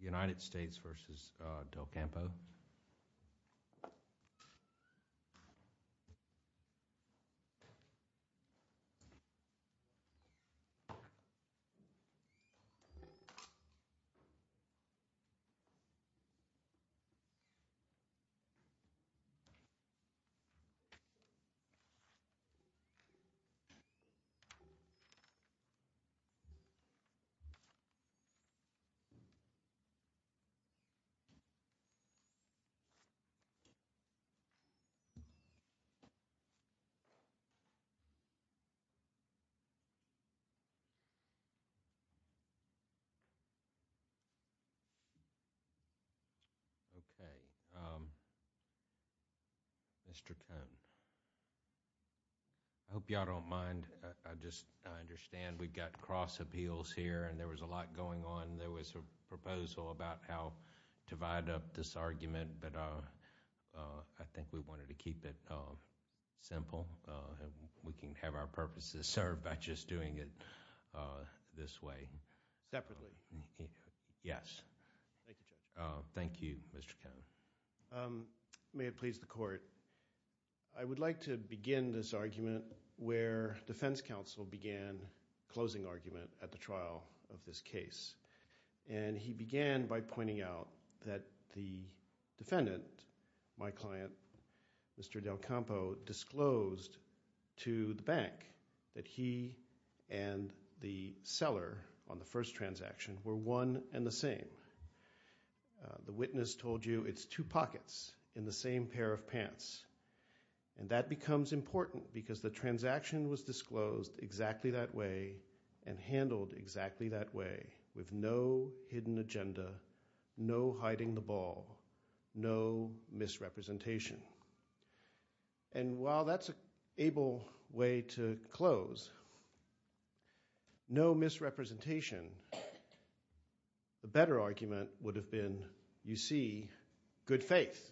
United States v. Del Campo. I hope you all don't mind, I just understand we've got cross appeals here and there was a lot going on. There was a proposal about how to wind up this argument, but I think we wanted to keep it simple and we can have our purposes served by just doing it this way. Separately? Yes. Thank you, Judge. Thank you, Mr. Cone. May it please the Court, I would like to begin this argument where defense counsel began closing argument at the trial of this case, and he began by pointing out that the defendant, my client, Mr. Del Campo, disclosed to the bank that he and the seller on the first transaction were one and the same. The witness told you it's two pockets in the same pair of pants, and that becomes important because the transaction was disclosed exactly that way and handled exactly that way with no hidden agenda, no hiding the ball, no misrepresentation. And while that's an able way to close, no misrepresentation, the better argument would have been, you see, good faith.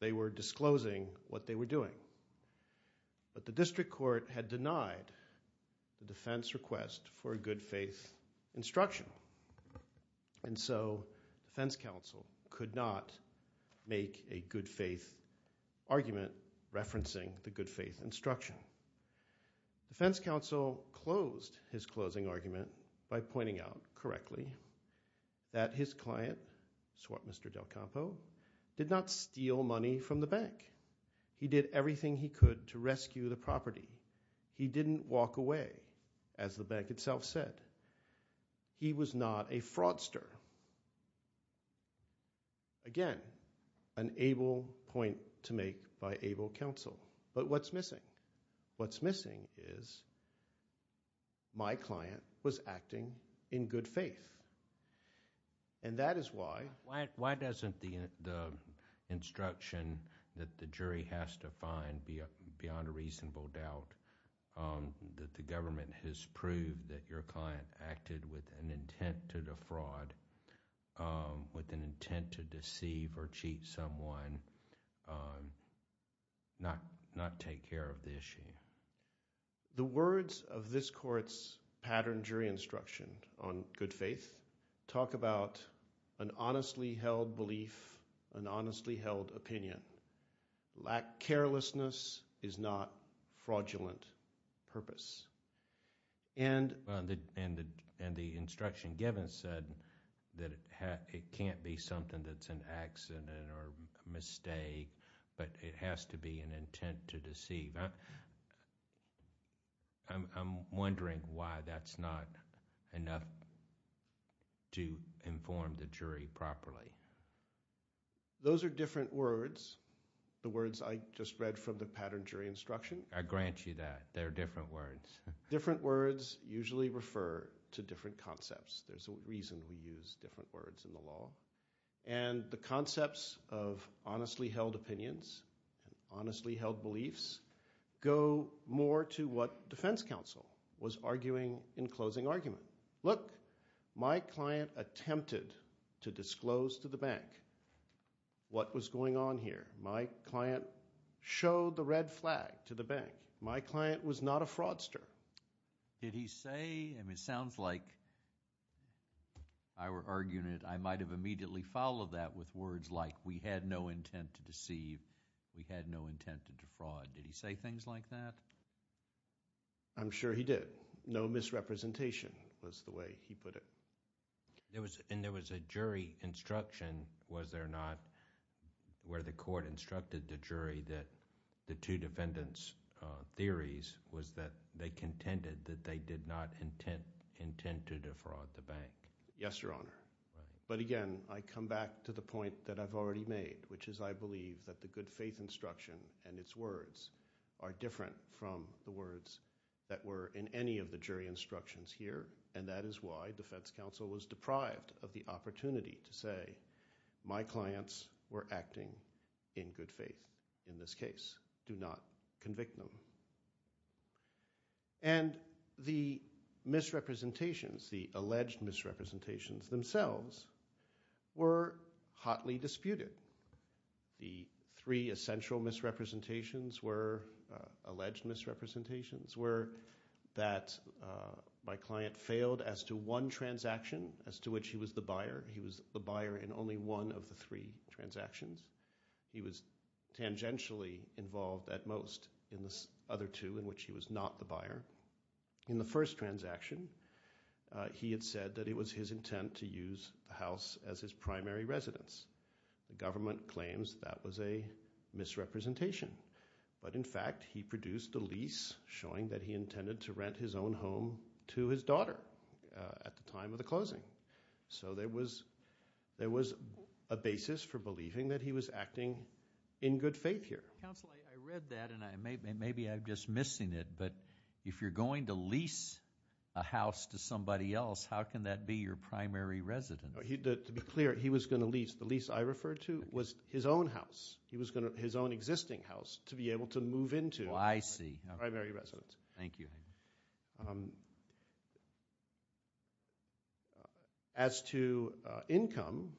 They were disclosing what they were doing, but the district court had denied the defense request for a good faith instruction, and so defense counsel could not make a good faith argument referencing the good faith instruction. Defense counsel closed his closing argument by pointing out correctly that his client, Mr. Del Campo, did not steal money from the bank. He did everything he could to rescue the property. He didn't walk away, as the bank itself said. He was not a fraudster. Again, an able point to make by able counsel. But what's missing? What's missing is my client was acting in good faith. And that is why... Why doesn't the instruction that the jury has to find, beyond a reasonable doubt, that the government has proved that your client acted with an intent to defraud, with an intent to deceive or cheat someone, not take care of the issue? The words of this court's patterned jury instruction on good faith talk about an honestly held belief, an honestly held opinion. Lack of carelessness is not fraudulent purpose. And the instruction given said that it can't be something that's an accident or a mistake, but it has to be an intent to deceive. I'm wondering why that's not enough to inform the jury properly. Those are different words, the words I just read from the patterned jury instruction. I grant you that. They're different words. Different words usually refer to different concepts. There's a reason we use different words in the law. And the concepts of honestly held opinions and honestly held beliefs go more to what defense counsel was arguing in closing argument. Look, my client attempted to disclose to the bank what was going on here. My client showed the red flag to the bank. My client was not a fraudster. Did he say, and it sounds like I were arguing it, I might have immediately followed that with words like we had no intent to deceive, we had no intent to defraud. Did he say things like that? I'm sure he did. No misrepresentation was the way he put it. And there was a jury instruction, was there not, where the court instructed the jury that the two defendants' theories was that they contended that they did not intend to defraud the bank? Yes, Your Honor. But again, I come back to the point that I've already made, which is I believe that the good faith instruction and its words are different from the words that were in any of the jury instructions here. And that is why defense counsel was deprived of the opportunity to say my clients were do not convict them. And the misrepresentations, the alleged misrepresentations themselves were hotly disputed. The three essential misrepresentations were, alleged misrepresentations were that my client failed as to one transaction as to which he was the buyer. He was the buyer in only one of the three transactions. He was tangentially involved at most in the other two in which he was not the buyer. In the first transaction, he had said that it was his intent to use the house as his primary residence. The government claims that was a misrepresentation. But in fact, he produced a lease showing that he intended to rent his own home to his daughter at the time of the closing. So there was a basis for believing that he was acting in good faith here. Counsel, I read that and maybe I'm just missing it, but if you're going to lease a house to somebody else, how can that be your primary residence? To be clear, he was going to lease, the lease I referred to was his own house. He was going to, his own existing house to be able to move into. I see. Primary residence. Thank you. As to income,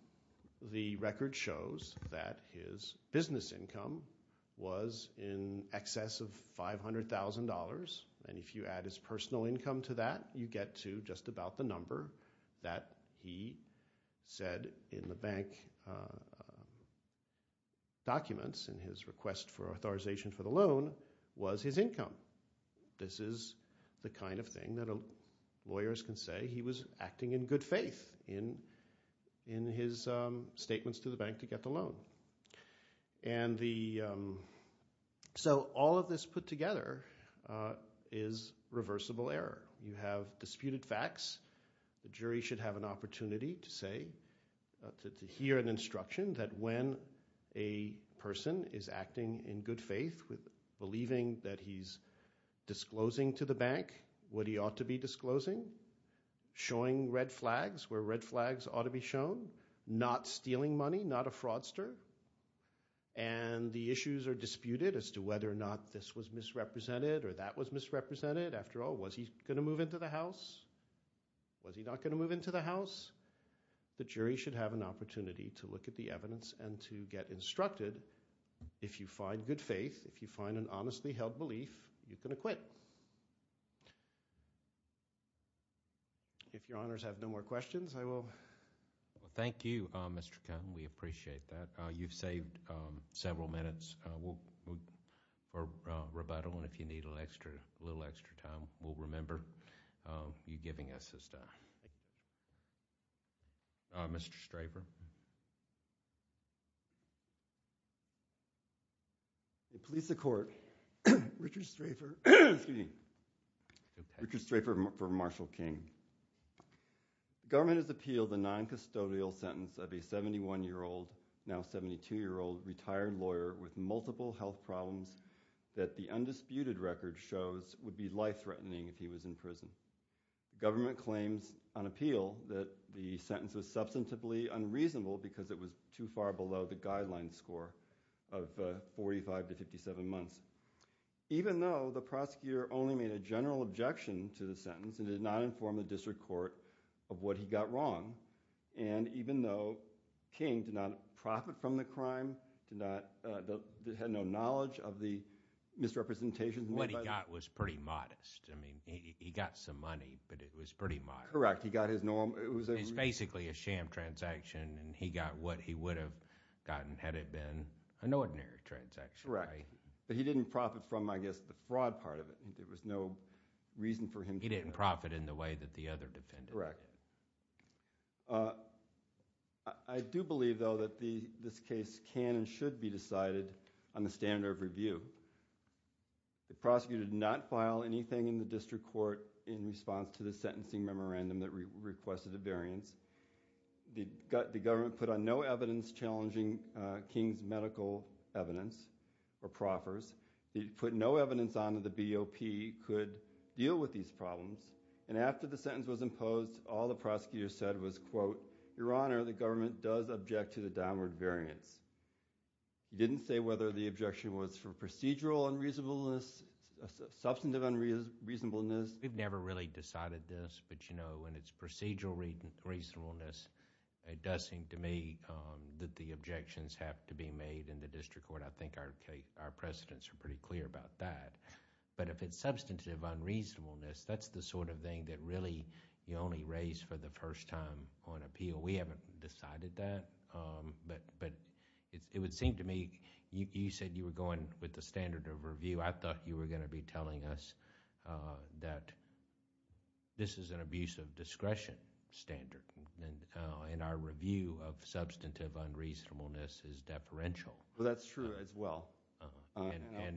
the record shows that his business income was in excess of $500,000. And if you add his personal income to that, you get to just about the number that he said in the bank documents in his request for authorization for the loan was his income. This is the kind of thing that lawyers can say he was acting in good faith in his statements to the bank to get the loan. And the, so all of this put together is reversible error. You have disputed facts. The jury should have an opportunity to say, to hear an instruction that when a person is acting in good faith, believing that he's disclosing to the bank what he ought to be disclosing, showing red flags where red flags ought to be shown, not stealing money, not a fraudster, and the issues are disputed as to whether or not this was misrepresented or that was misrepresented. After all, was he going to move into the house? Was he not going to move into the house? The jury should have an opportunity to look at the evidence and to get instructed. If you find good faith, if you find an honestly held belief, you can acquit. If your honors have no more questions, I will. Thank you, Mr. Kahn. We appreciate that. You've saved several minutes for rebuttal, and if you need a little extra time, we'll remember you giving us this time. Mr. Strafer. I'm going to police the court. Richard Strafer for Marshall King. Government has appealed the noncustodial sentence of a 71-year-old, now 72-year-old, retired lawyer with multiple health problems that the undisputed record shows would be life-threatening if he was in prison. Government claims on appeal that the sentence was substantively unreasonable because it was too far below the guideline score of 45 to 57 months, even though the prosecutor only made a general objection to the sentence and did not inform the district court of what he got wrong, and even though King did not profit from the crime, had no knowledge of the misrepresentation. What he got was pretty modest. I mean, he got some money, but it was pretty modest. Correct. He got his normal... It was basically a sham transaction, and he got what he would have gotten had it been an ordinary transaction. Right? Correct. But he didn't profit from, I guess, the fraud part of it. There was no reason for him to... He didn't profit in the way that the other defendant did. Correct. I do believe, though, that this case can and should be decided on the standard of review. The prosecutor did not file anything in the district court in response to the sentencing memorandum that requested a variance. The government put on no evidence challenging King's medical evidence or proffers. They put no evidence on that the BOP could deal with these problems, and after the sentence was imposed, all the prosecutor said was, quote, Your Honor, the government does object to the downward variance. He didn't say whether the objection was for procedural unreasonableness, substantive unreasonableness. We've never really decided this, but you know, when it's procedural reasonableness, it does seem to me that the objections have to be made in the district court. I think our precedents are pretty clear about that, but if it's substantive unreasonableness, that's the sort of thing that really you only raise for the first time on appeal. We haven't decided that, but it would seem to me, you said you were going with the standard of review. I thought you were going to be telling us that this is an abuse of discretion standard, and our review of substantive unreasonableness is deferential. Well, that's true as well. And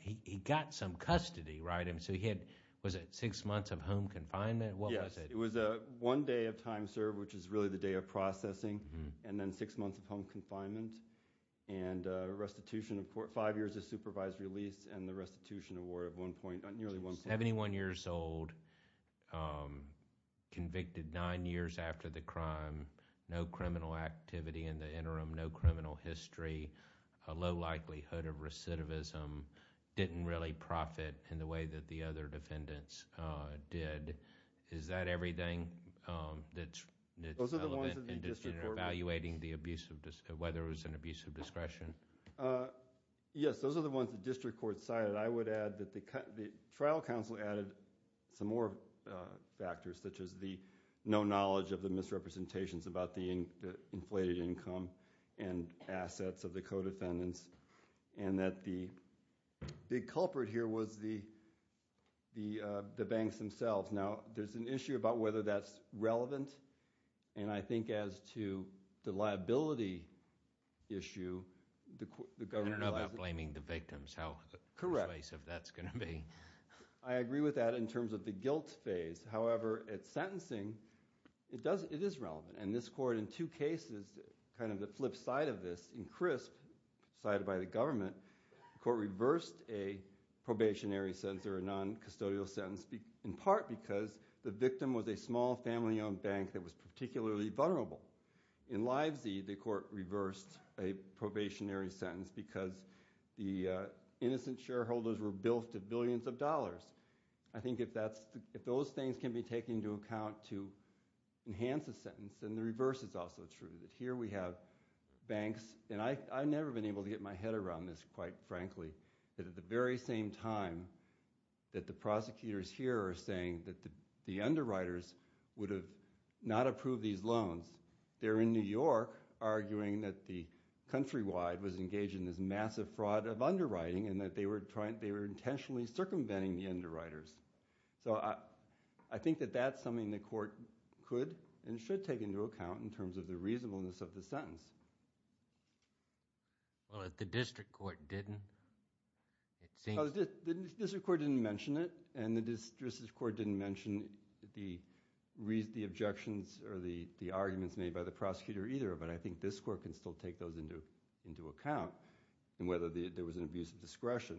he got some custody, right? So he had, was it six months of home confinement? Yes. What was it? It was one day of time served, which is really the day of processing, and then six months of home confinement, and restitution of five years of supervised release, and the restitution award of nearly one point. 71 years old, convicted nine years after the crime, no criminal activity in the interim, no criminal history, a low likelihood of recidivism, didn't really profit in the way that the other defendants did. Is that everything that's relevant in evaluating whether it was an abuse of discretion? Yes, those are the ones the district court cited. I would add that the trial counsel added some more factors, such as the no knowledge of the misrepresentations about the inflated income and assets of the co-defendants, and that the big culprit here was the banks themselves. Now, there's an issue about whether that's relevant, and I think as to the liability issue, the governor- I don't know about blaming the victims, how persuasive that's going to be. Correct. I agree with that in terms of the guilt phase. However, at sentencing, it is relevant, and this court in two cases, kind of the flip side of this, in Crisp, cited by the government, the court reversed a probationary sentence or a non-custodial sentence, in part because the victim was a small family-owned bank that was particularly vulnerable. In Livesy, the court reversed a probationary sentence because the innocent shareholders were billed to billions of dollars. I think if those things can be taken into account to enhance a sentence, then the reverse is also true, that here we have banks, and I've never been able to get my head around this, quite frankly, that at the very same time that the prosecutors here are saying that the underwriters would have not approved these loans, they're in New York arguing that the Countrywide was engaged in this massive fraud of underwriting and that they were intentionally circumventing the underwriters. So I think that that's something the court could and should take into account in terms of the reasonableness of the sentence. Well, if the district court didn't, it seems— The district court didn't mention it, and the district court didn't mention the objections or the arguments made by the prosecutor either, but I think this court can still take those into account in whether there was an abuse of discretion.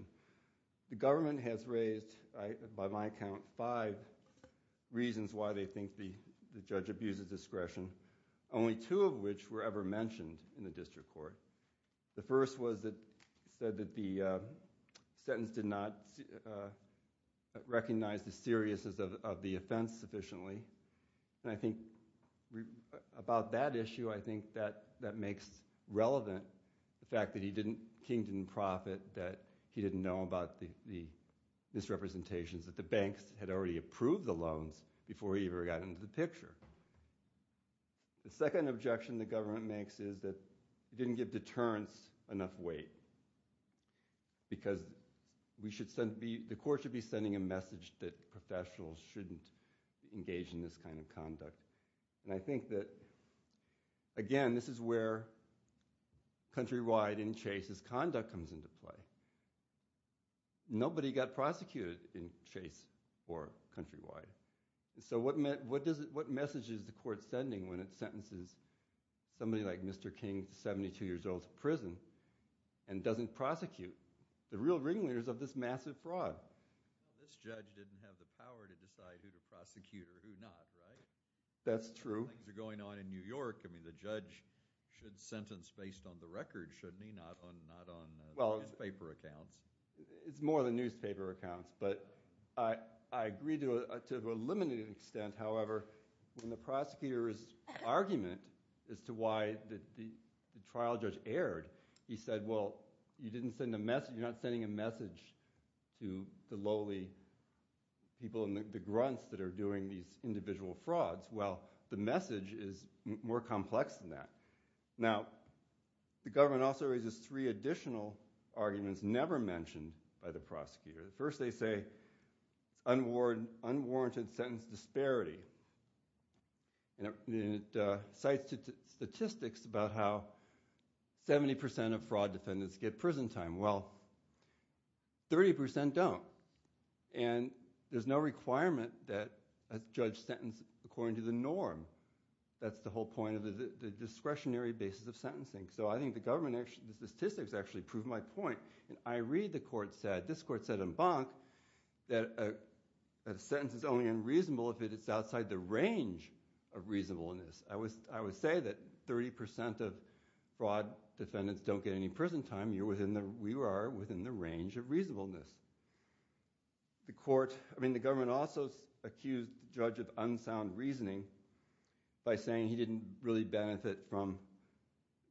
The government has raised, by my count, five reasons why they think the judge abused the discretion, only two of which were ever mentioned in the district court. The first was that it said that the sentence did not recognize the seriousness of the offense sufficiently, and I think about that issue, I think that that makes relevant the fact that King didn't profit, that he didn't know about the misrepresentations, that the banks had already approved the loans before he ever got into the picture. The second objection the government makes is that it didn't give deterrence enough weight, because the court should be sending a message that professionals shouldn't engage in this kind of conduct, and I think that, again, this is where countrywide in Chase's conduct comes into play. Nobody got prosecuted in Chase or countrywide, so what message is the court sending when it sentences somebody like Mr. King, 72 years old, to prison and doesn't prosecute the real ringleaders of this massive fraud? This judge didn't have the power to decide who to prosecute or who not, right? That's true. Things are going on in New York. I mean, the judge should sentence based on the record, shouldn't he, not on newspaper accounts? Well, it's more than newspaper accounts, but I agree to a limited extent, however, when the prosecutor's argument as to why the trial judge erred, he said, well, you're not sending a message to the lowly people and the grunts that are doing these individual frauds. Well, the message is more complex than that. Now, the government also raises three additional arguments never mentioned by the prosecutor. First, they say unwarranted sentence disparity, and it cites statistics about how 70 percent of fraud defendants get prison time. Well, 30 percent don't, and there's no requirement that a judge sentence according to the norm. That's the whole point of the discretionary basis of sentencing. So I think the statistics actually prove my point, and I read the court said, this court said in Bonk, that a sentence is only unreasonable if it is outside the range of reasonableness. I would say that 30 percent of fraud defendants don't get any prison time. We are within the range of reasonableness. The government also accused the judge of unsound reasoning by saying he didn't really benefit from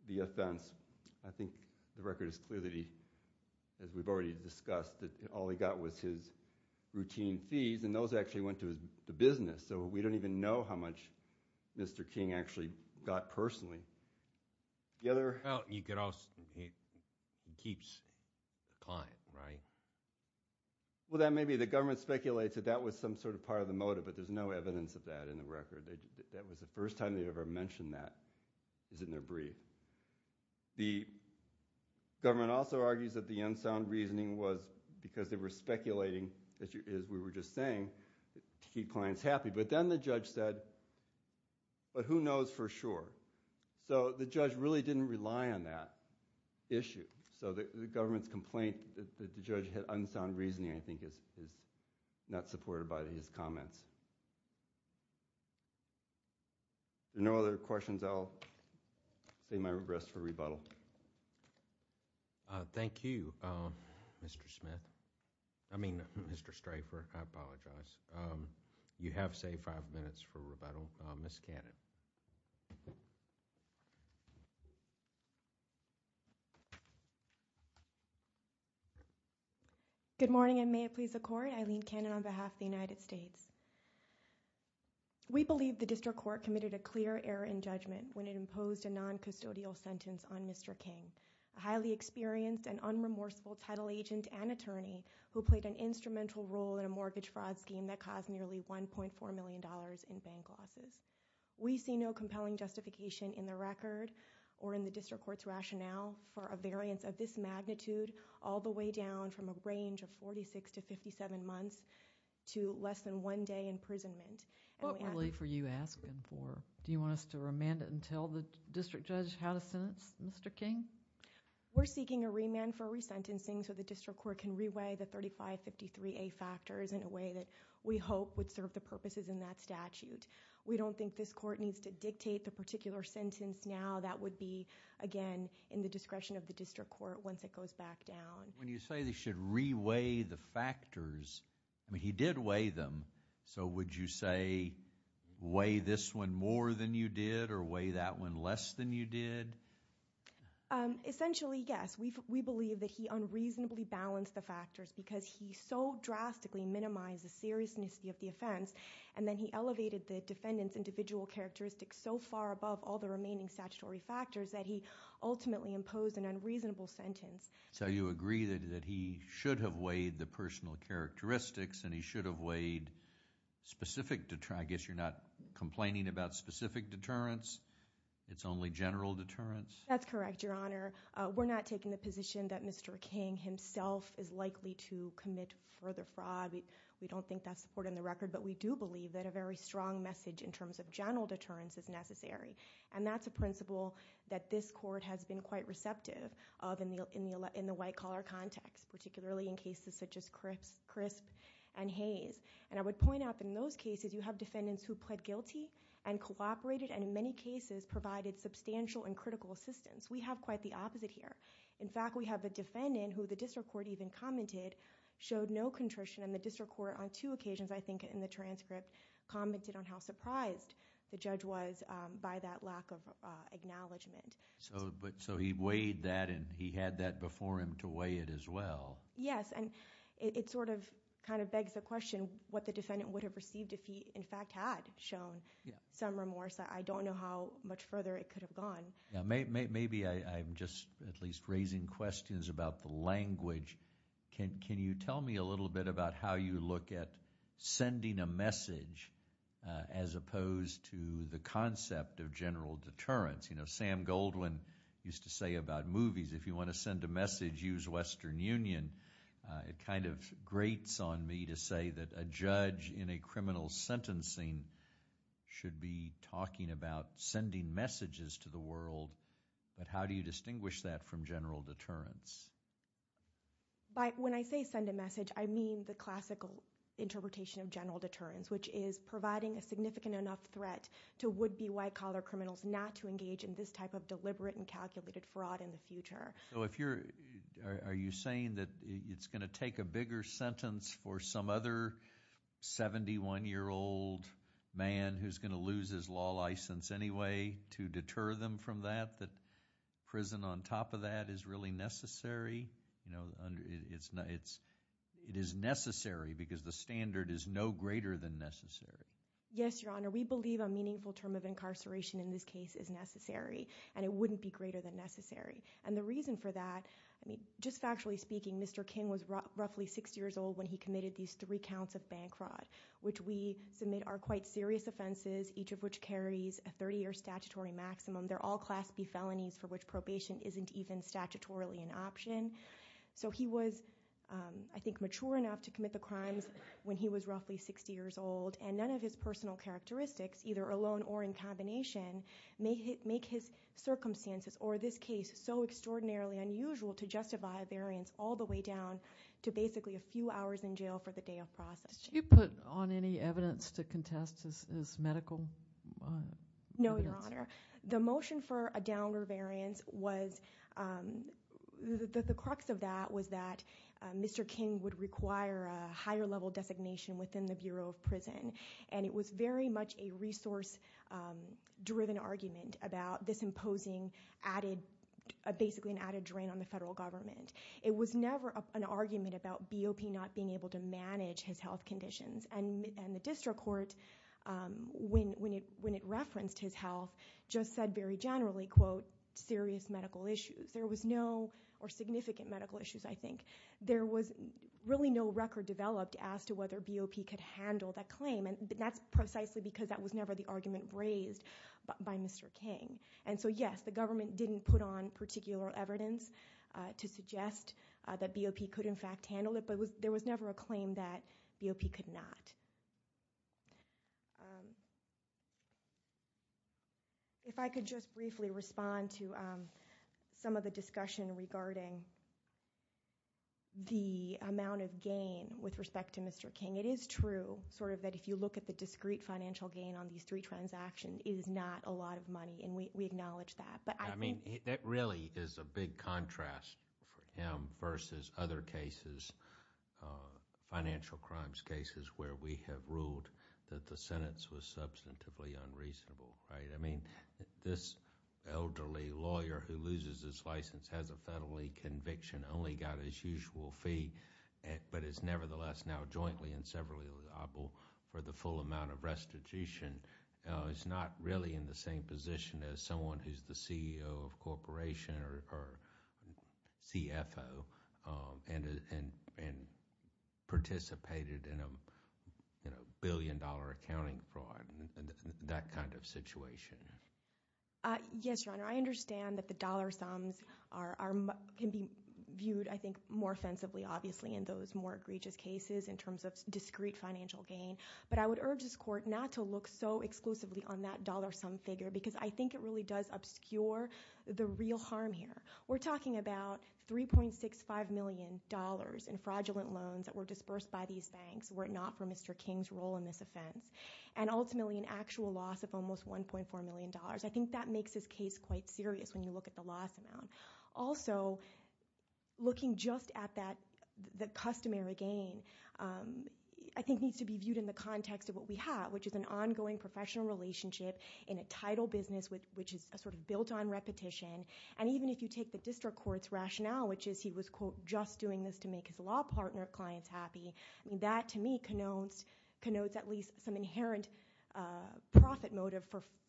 the offense. I think the record is clear that he, as we've already discussed, that all he got was his routine fees, and those actually went to his business. So we don't even know how much Mr. King actually got personally. Well, he keeps the client, right? Well, that may be. The government speculates that that was some sort of part of the motive, but there's no evidence of that in the record. That was the first time they ever mentioned that, is in their brief. The government also argues that the unsound reasoning was because they were speculating, as we were just saying, to keep clients happy. But then the judge said, but who knows for sure? So the judge really didn't rely on that issue. So the government's complaint that the judge had unsound reasoning, I think, is not supported by his comments. If there are no other questions, I'll say my rest for rebuttal. Thank you, Mr. Smith. I mean, Mr. Strafer, I apologize. You have, say, five minutes for rebuttal. Ms. Cannon. Good morning, and may it please the Court. Eileen Cannon on behalf of the United States. We believe the district court committed a clear error in judgment when it imposed a non-custodial sentence on Mr. King, a highly experienced and unremorseful title agent and attorney who played an instrumental role in a mortgage fraud scheme that caused nearly $1.4 million in bank losses. We see no compelling justification in the record or in the district court's rationale for a variance of this magnitude all the way down from a range of 46 to 57 months to less than one day imprisonment. What were you asking for? Do you want us to remand it and tell the district judge how to sentence Mr. King? We're seeking a remand for resentencing so the district court can reweigh the 3553A factors in a way that we hope would serve the purposes in that statute. We don't think this court needs to dictate the particular sentence now. That would be, again, in the discretion of the district court once it goes back down. When you say they should reweigh the factors, I mean, he did weigh them. So would you say weigh this one more than you did or weigh that one less than you did? Essentially, yes. We believe that he unreasonably balanced the factors because he so drastically minimized the seriousness of the offense. And then he elevated the defendant's individual characteristics so far above all the remaining statutory factors that he ultimately imposed an unreasonable sentence. So you agree that he should have weighed the personal characteristics and he should have weighed specific deterrence. I guess you're not complaining about specific deterrence. It's only general deterrence. That's correct, Your Honor. We're not taking the position that Mr. King himself is likely to commit further fraud. We don't think that's supported in the record. But we do believe that a very strong message in terms of general deterrence is necessary. And that's a principle that this court has been quite receptive of in the white-collar context, particularly in cases such as Crisp and Hayes. And I would point out that in those cases, you have defendants who pled guilty and cooperated and in many cases provided substantial and critical assistance. We have quite the opposite here. In fact, we have a defendant who the district court even commented showed no contrition. And the district court on two occasions, I think, in the transcript commented on how surprised the judge was by that lack of acknowledgment. So he weighed that and he had that before him to weigh it as well. Yes, and it sort of kind of begs the question what the defendant would have received if he, in fact, had shown some remorse. I don't know how much further it could have gone. Can you tell me a little bit about how you look at sending a message as opposed to the concept of general deterrence? You know, Sam Goldwyn used to say about movies, if you want to send a message, use Western Union. It kind of grates on me to say that a judge in a criminal sentencing should be talking about sending messages to the world. But how do you distinguish that from general deterrence? When I say send a message, I mean the classical interpretation of general deterrence, which is providing a significant enough threat to would-be white-collar criminals not to engage in this type of deliberate and calculated fraud in the future. Are you saying that it's going to take a bigger sentence for some other 71-year-old man who's going to lose his law license anyway to deter them from that, that prison on top of that is really necessary? You know, it is necessary because the standard is no greater than necessary. Yes, Your Honor. We believe a meaningful term of incarceration in this case is necessary, and it wouldn't be greater than necessary. And the reason for that, I mean, just factually speaking, Mr. King was roughly 60 years old when he committed these three counts of bank fraud, which we submit are quite serious offenses, each of which carries a 30-year statutory maximum. They're all Class B felonies for which probation isn't even statutorily an option. So he was, I think, mature enough to commit the crimes when he was roughly 60 years old, and none of his personal characteristics, either alone or in combination, make his circumstances or this case so extraordinarily unusual to justify a variance all the way down to basically a few hours in jail for the day of processing. Did you put on any evidence to contest his medical evidence? No, Your Honor. The motion for a downer variance was that the crux of that was that Mr. King would require a higher-level designation within the Bureau of Prison, and it was very much a resource-driven argument about this imposing added, basically an added drain on the federal government. It was never an argument about BOP not being able to manage his health conditions, and the district court, when it referenced his health, just said very generally, quote, serious medical issues. There was no, or significant medical issues, I think. There was really no record developed as to whether BOP could handle that claim, and that's precisely because that was never the argument raised by Mr. King. And so, yes, the government didn't put on particular evidence to suggest that BOP could in fact handle it, but there was never a claim that BOP could not. If I could just briefly respond to some of the discussion regarding the amount of gain with respect to Mr. King. It is true sort of that if you look at the discrete financial gain on these three transactions, it is not a lot of money, and we acknowledge that, but I think... I mean, that really is a big contrast for him versus other cases, financial crimes cases, where we have ruled that the sentence was substantively unreasonable, right? I mean, this elderly lawyer who loses his license has a federally conviction, only got his usual fee, but is nevertheless now jointly and severally liable for the full amount of restitution is not really in the same position as someone who is the CEO of a corporation or CFO and participated in a billion-dollar accounting fraud, that kind of situation. Yes, Your Honor. I understand that the dollar sums can be viewed, I think, more offensively, obviously, in those more egregious cases in terms of discrete financial gain, but I would urge this Court not to look so exclusively on that dollar sum figure because I think it really does obscure the real harm here. We're talking about $3.65 million in fraudulent loans that were dispersed by these banks were it not for Mr. King's role in this offense, and ultimately an actual loss of almost $1.4 million. I think that makes this case quite serious when you look at the loss amount. Also, looking just at the customary gain, I think needs to be viewed in the context of what we have, which is an ongoing professional relationship in a title business, which is a sort of built-on repetition. And even if you take the district court's rationale, which is he was, quote, just doing this to make his law partner clients happy, that to me connotes at least some inherent profit motive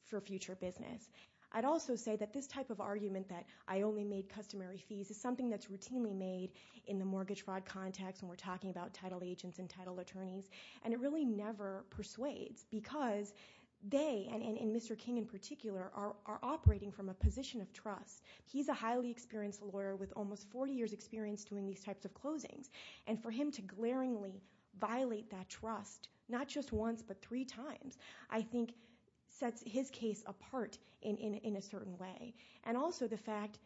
for future business. I'd also say that this type of argument that I only made customary fees is something that's routinely made in the mortgage fraud context when we're talking about title agents and title attorneys, and it really never persuades because they, and Mr. King in particular, are operating from a position of trust. He's a highly experienced lawyer with almost 40 years' experience doing these types of closings, and for him to glaringly violate that trust, not just once but three times, I think sets his case apart in a certain way. And also the fact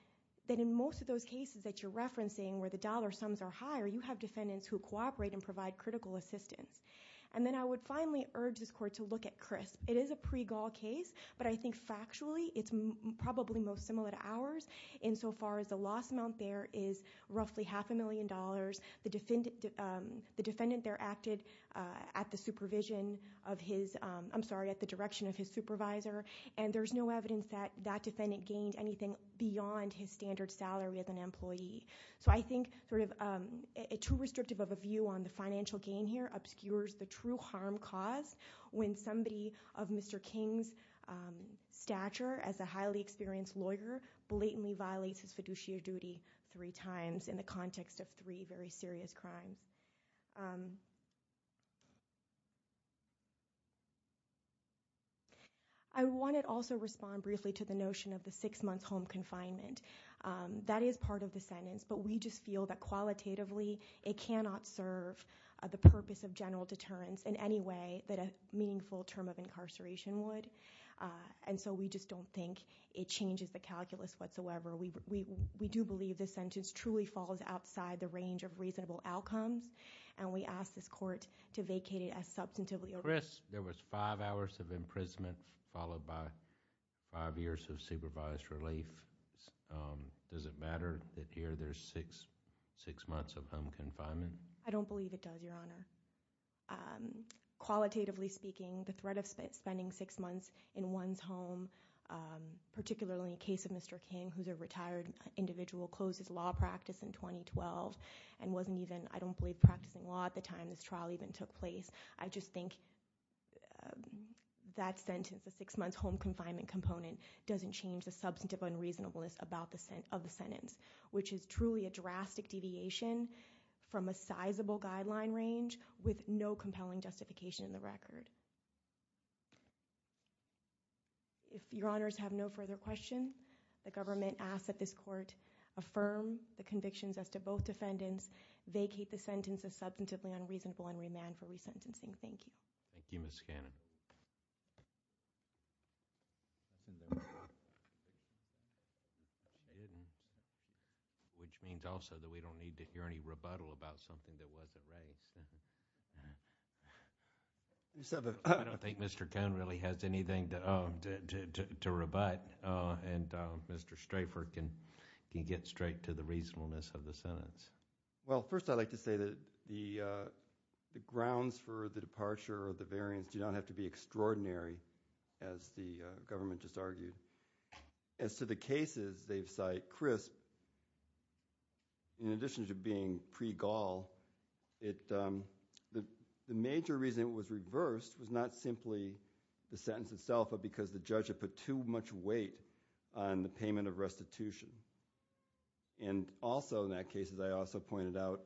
that in most of those cases that you're referencing where the dollar sums are higher, you have defendants who cooperate and provide critical assistance. And then I would finally urge this court to look at CRISP. It is a pre-Gaul case, but I think factually it's probably most similar to ours insofar as the loss amount there is roughly half a million dollars. The defendant there acted at the supervision of his, I'm sorry, at the direction of his supervisor, and there's no evidence that that defendant gained anything beyond his standard salary as an employee. So I think sort of too restrictive of a view on the financial gain here obscures the true harm cause when somebody of Mr. King's stature as a highly experienced lawyer blatantly violates his fiduciary duty three times in the context of three very serious crimes. I want to also respond briefly to the notion of the six months home confinement. That is part of the sentence, but we just feel that qualitatively it cannot serve the purpose of general deterrence in any way that a meaningful term of incarceration would. And so we just don't think it changes the calculus whatsoever. We do believe this sentence truly falls outside the range of reasonable outcomes, and we ask this court to vacate it as substantively. Chris, there was five hours of imprisonment followed by five years of supervised relief. Does it matter that here there's six months of home confinement? I don't believe it does, Your Honor. Qualitatively speaking, the threat of spending six months in one's home, particularly in the case of Mr. King, who's a retired individual, closed his law practice in 2012 and wasn't even, I don't believe, practicing law at the time this trial even took place. I just think that sentence, the six months home confinement component, doesn't change the substantive unreasonableness of the sentence, which is truly a drastic deviation from a sizable guideline range with no compelling justification in the record. If Your Honors have no further questions, the government asks that this court affirm the convictions as to both defendants, vacate the sentence as substantively unreasonable, and remand for resentencing. Thank you. Thank you, Ms. Cannon. Which means also that we don't need to hear any rebuttal about something that wasn't raised. I don't think Mr. Cohn really has anything to rebut, and Mr. Strafford can get straight to the reasonableness of the sentence. Well, first I'd like to say that the grounds for the departure or the variance do not have to be extraordinary, as the government just argued. As to the cases they've cited, Chris, in addition to being pre-Gaul, the major reason it was reversed was not simply the sentence itself, but because the judge had put too much weight on the payment of restitution. And also in that case, as I also pointed out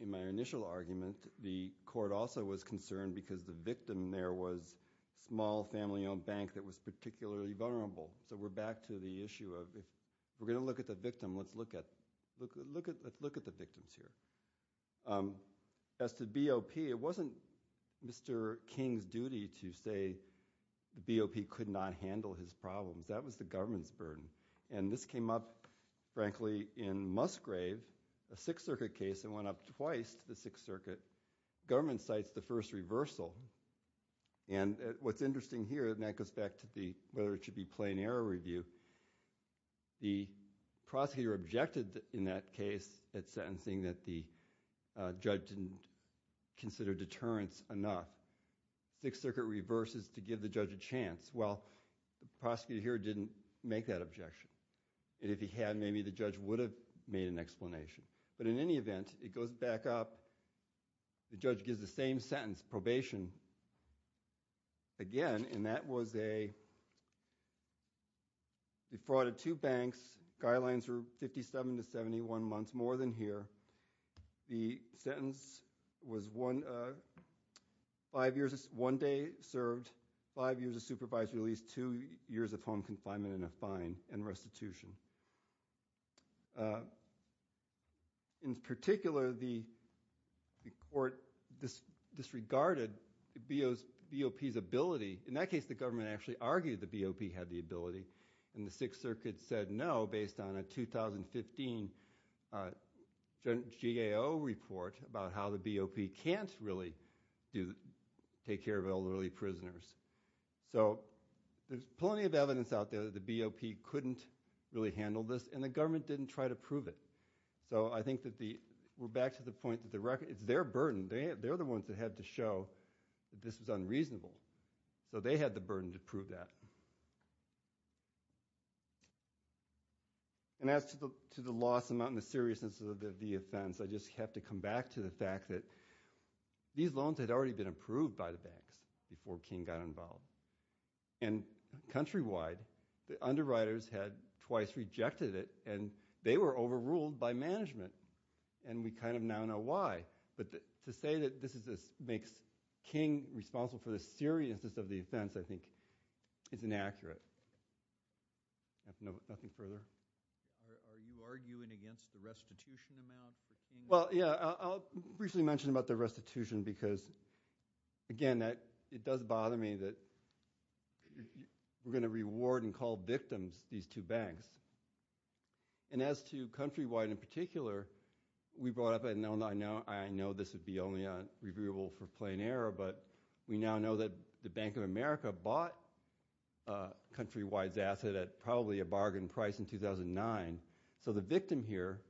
in my initial argument, the court also was concerned because the victim there was a small family-owned bank that was particularly vulnerable. So we're back to the issue of if we're going to look at the victim, let's look at the victims here. As to BOP, it wasn't Mr. King's duty to say the BOP could not handle his problems. That was the government's burden. And this came up, frankly, in Musgrave, a Sixth Circuit case, and went up twice to the Sixth Circuit. The government cites the first reversal. And what's interesting here, and that goes back to whether it should be plain error review, the prosecutor objected in that case at sentencing that the judge didn't consider deterrence enough. Sixth Circuit reverses to give the judge a chance. Well, the prosecutor here didn't make that objection. And if he had, maybe the judge would have made an explanation. But in any event, it goes back up. The judge gives the same sentence, probation, again, and that was a fraud of two banks, guidelines were 57 to 71 months, more than here. The sentence was one day served, five years of supervised release, two years of home confinement and a fine, and restitution. In particular, the court disregarded BOP's ability. In that case, the government actually argued that BOP had the ability, and the Sixth Circuit said no based on a 2015 GAO report about how the BOP can't really take care of elderly prisoners. So there's plenty of evidence out there that the BOP couldn't really handle this, and the government didn't try to prove it. So I think that we're back to the point that it's their burden. They're the ones that had to show that this was unreasonable. So they had the burden to prove that. And as to the loss amount and the seriousness of the offense, I just have to come back to the fact that these loans had already been approved by the banks before King got involved. And countrywide, the underwriters had twice rejected it, and they were overruled by management, and we kind of now know why. But to say that this makes King responsible for the seriousness of the offense, I think, is inaccurate. Nothing further? Are you arguing against the restitution amount for King? Well, yeah. I'll briefly mention about the restitution because, again, it does bother me that we're going to reward and call victims these two banks. And as to countrywide in particular, we brought up – I know this would be only reviewable for plain error, but we now know that the Bank of America bought Countrywide's asset at probably a bargain price in 2009. So the victim here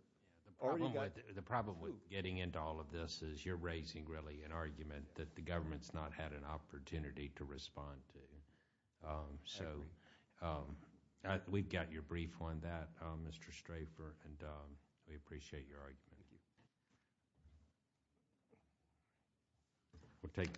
already got two. The problem with getting into all of this is you're raising really an argument that the government's not had an opportunity to respond to. So we've got your brief on that, Mr. Strafer, and we appreciate your argument. Thank you.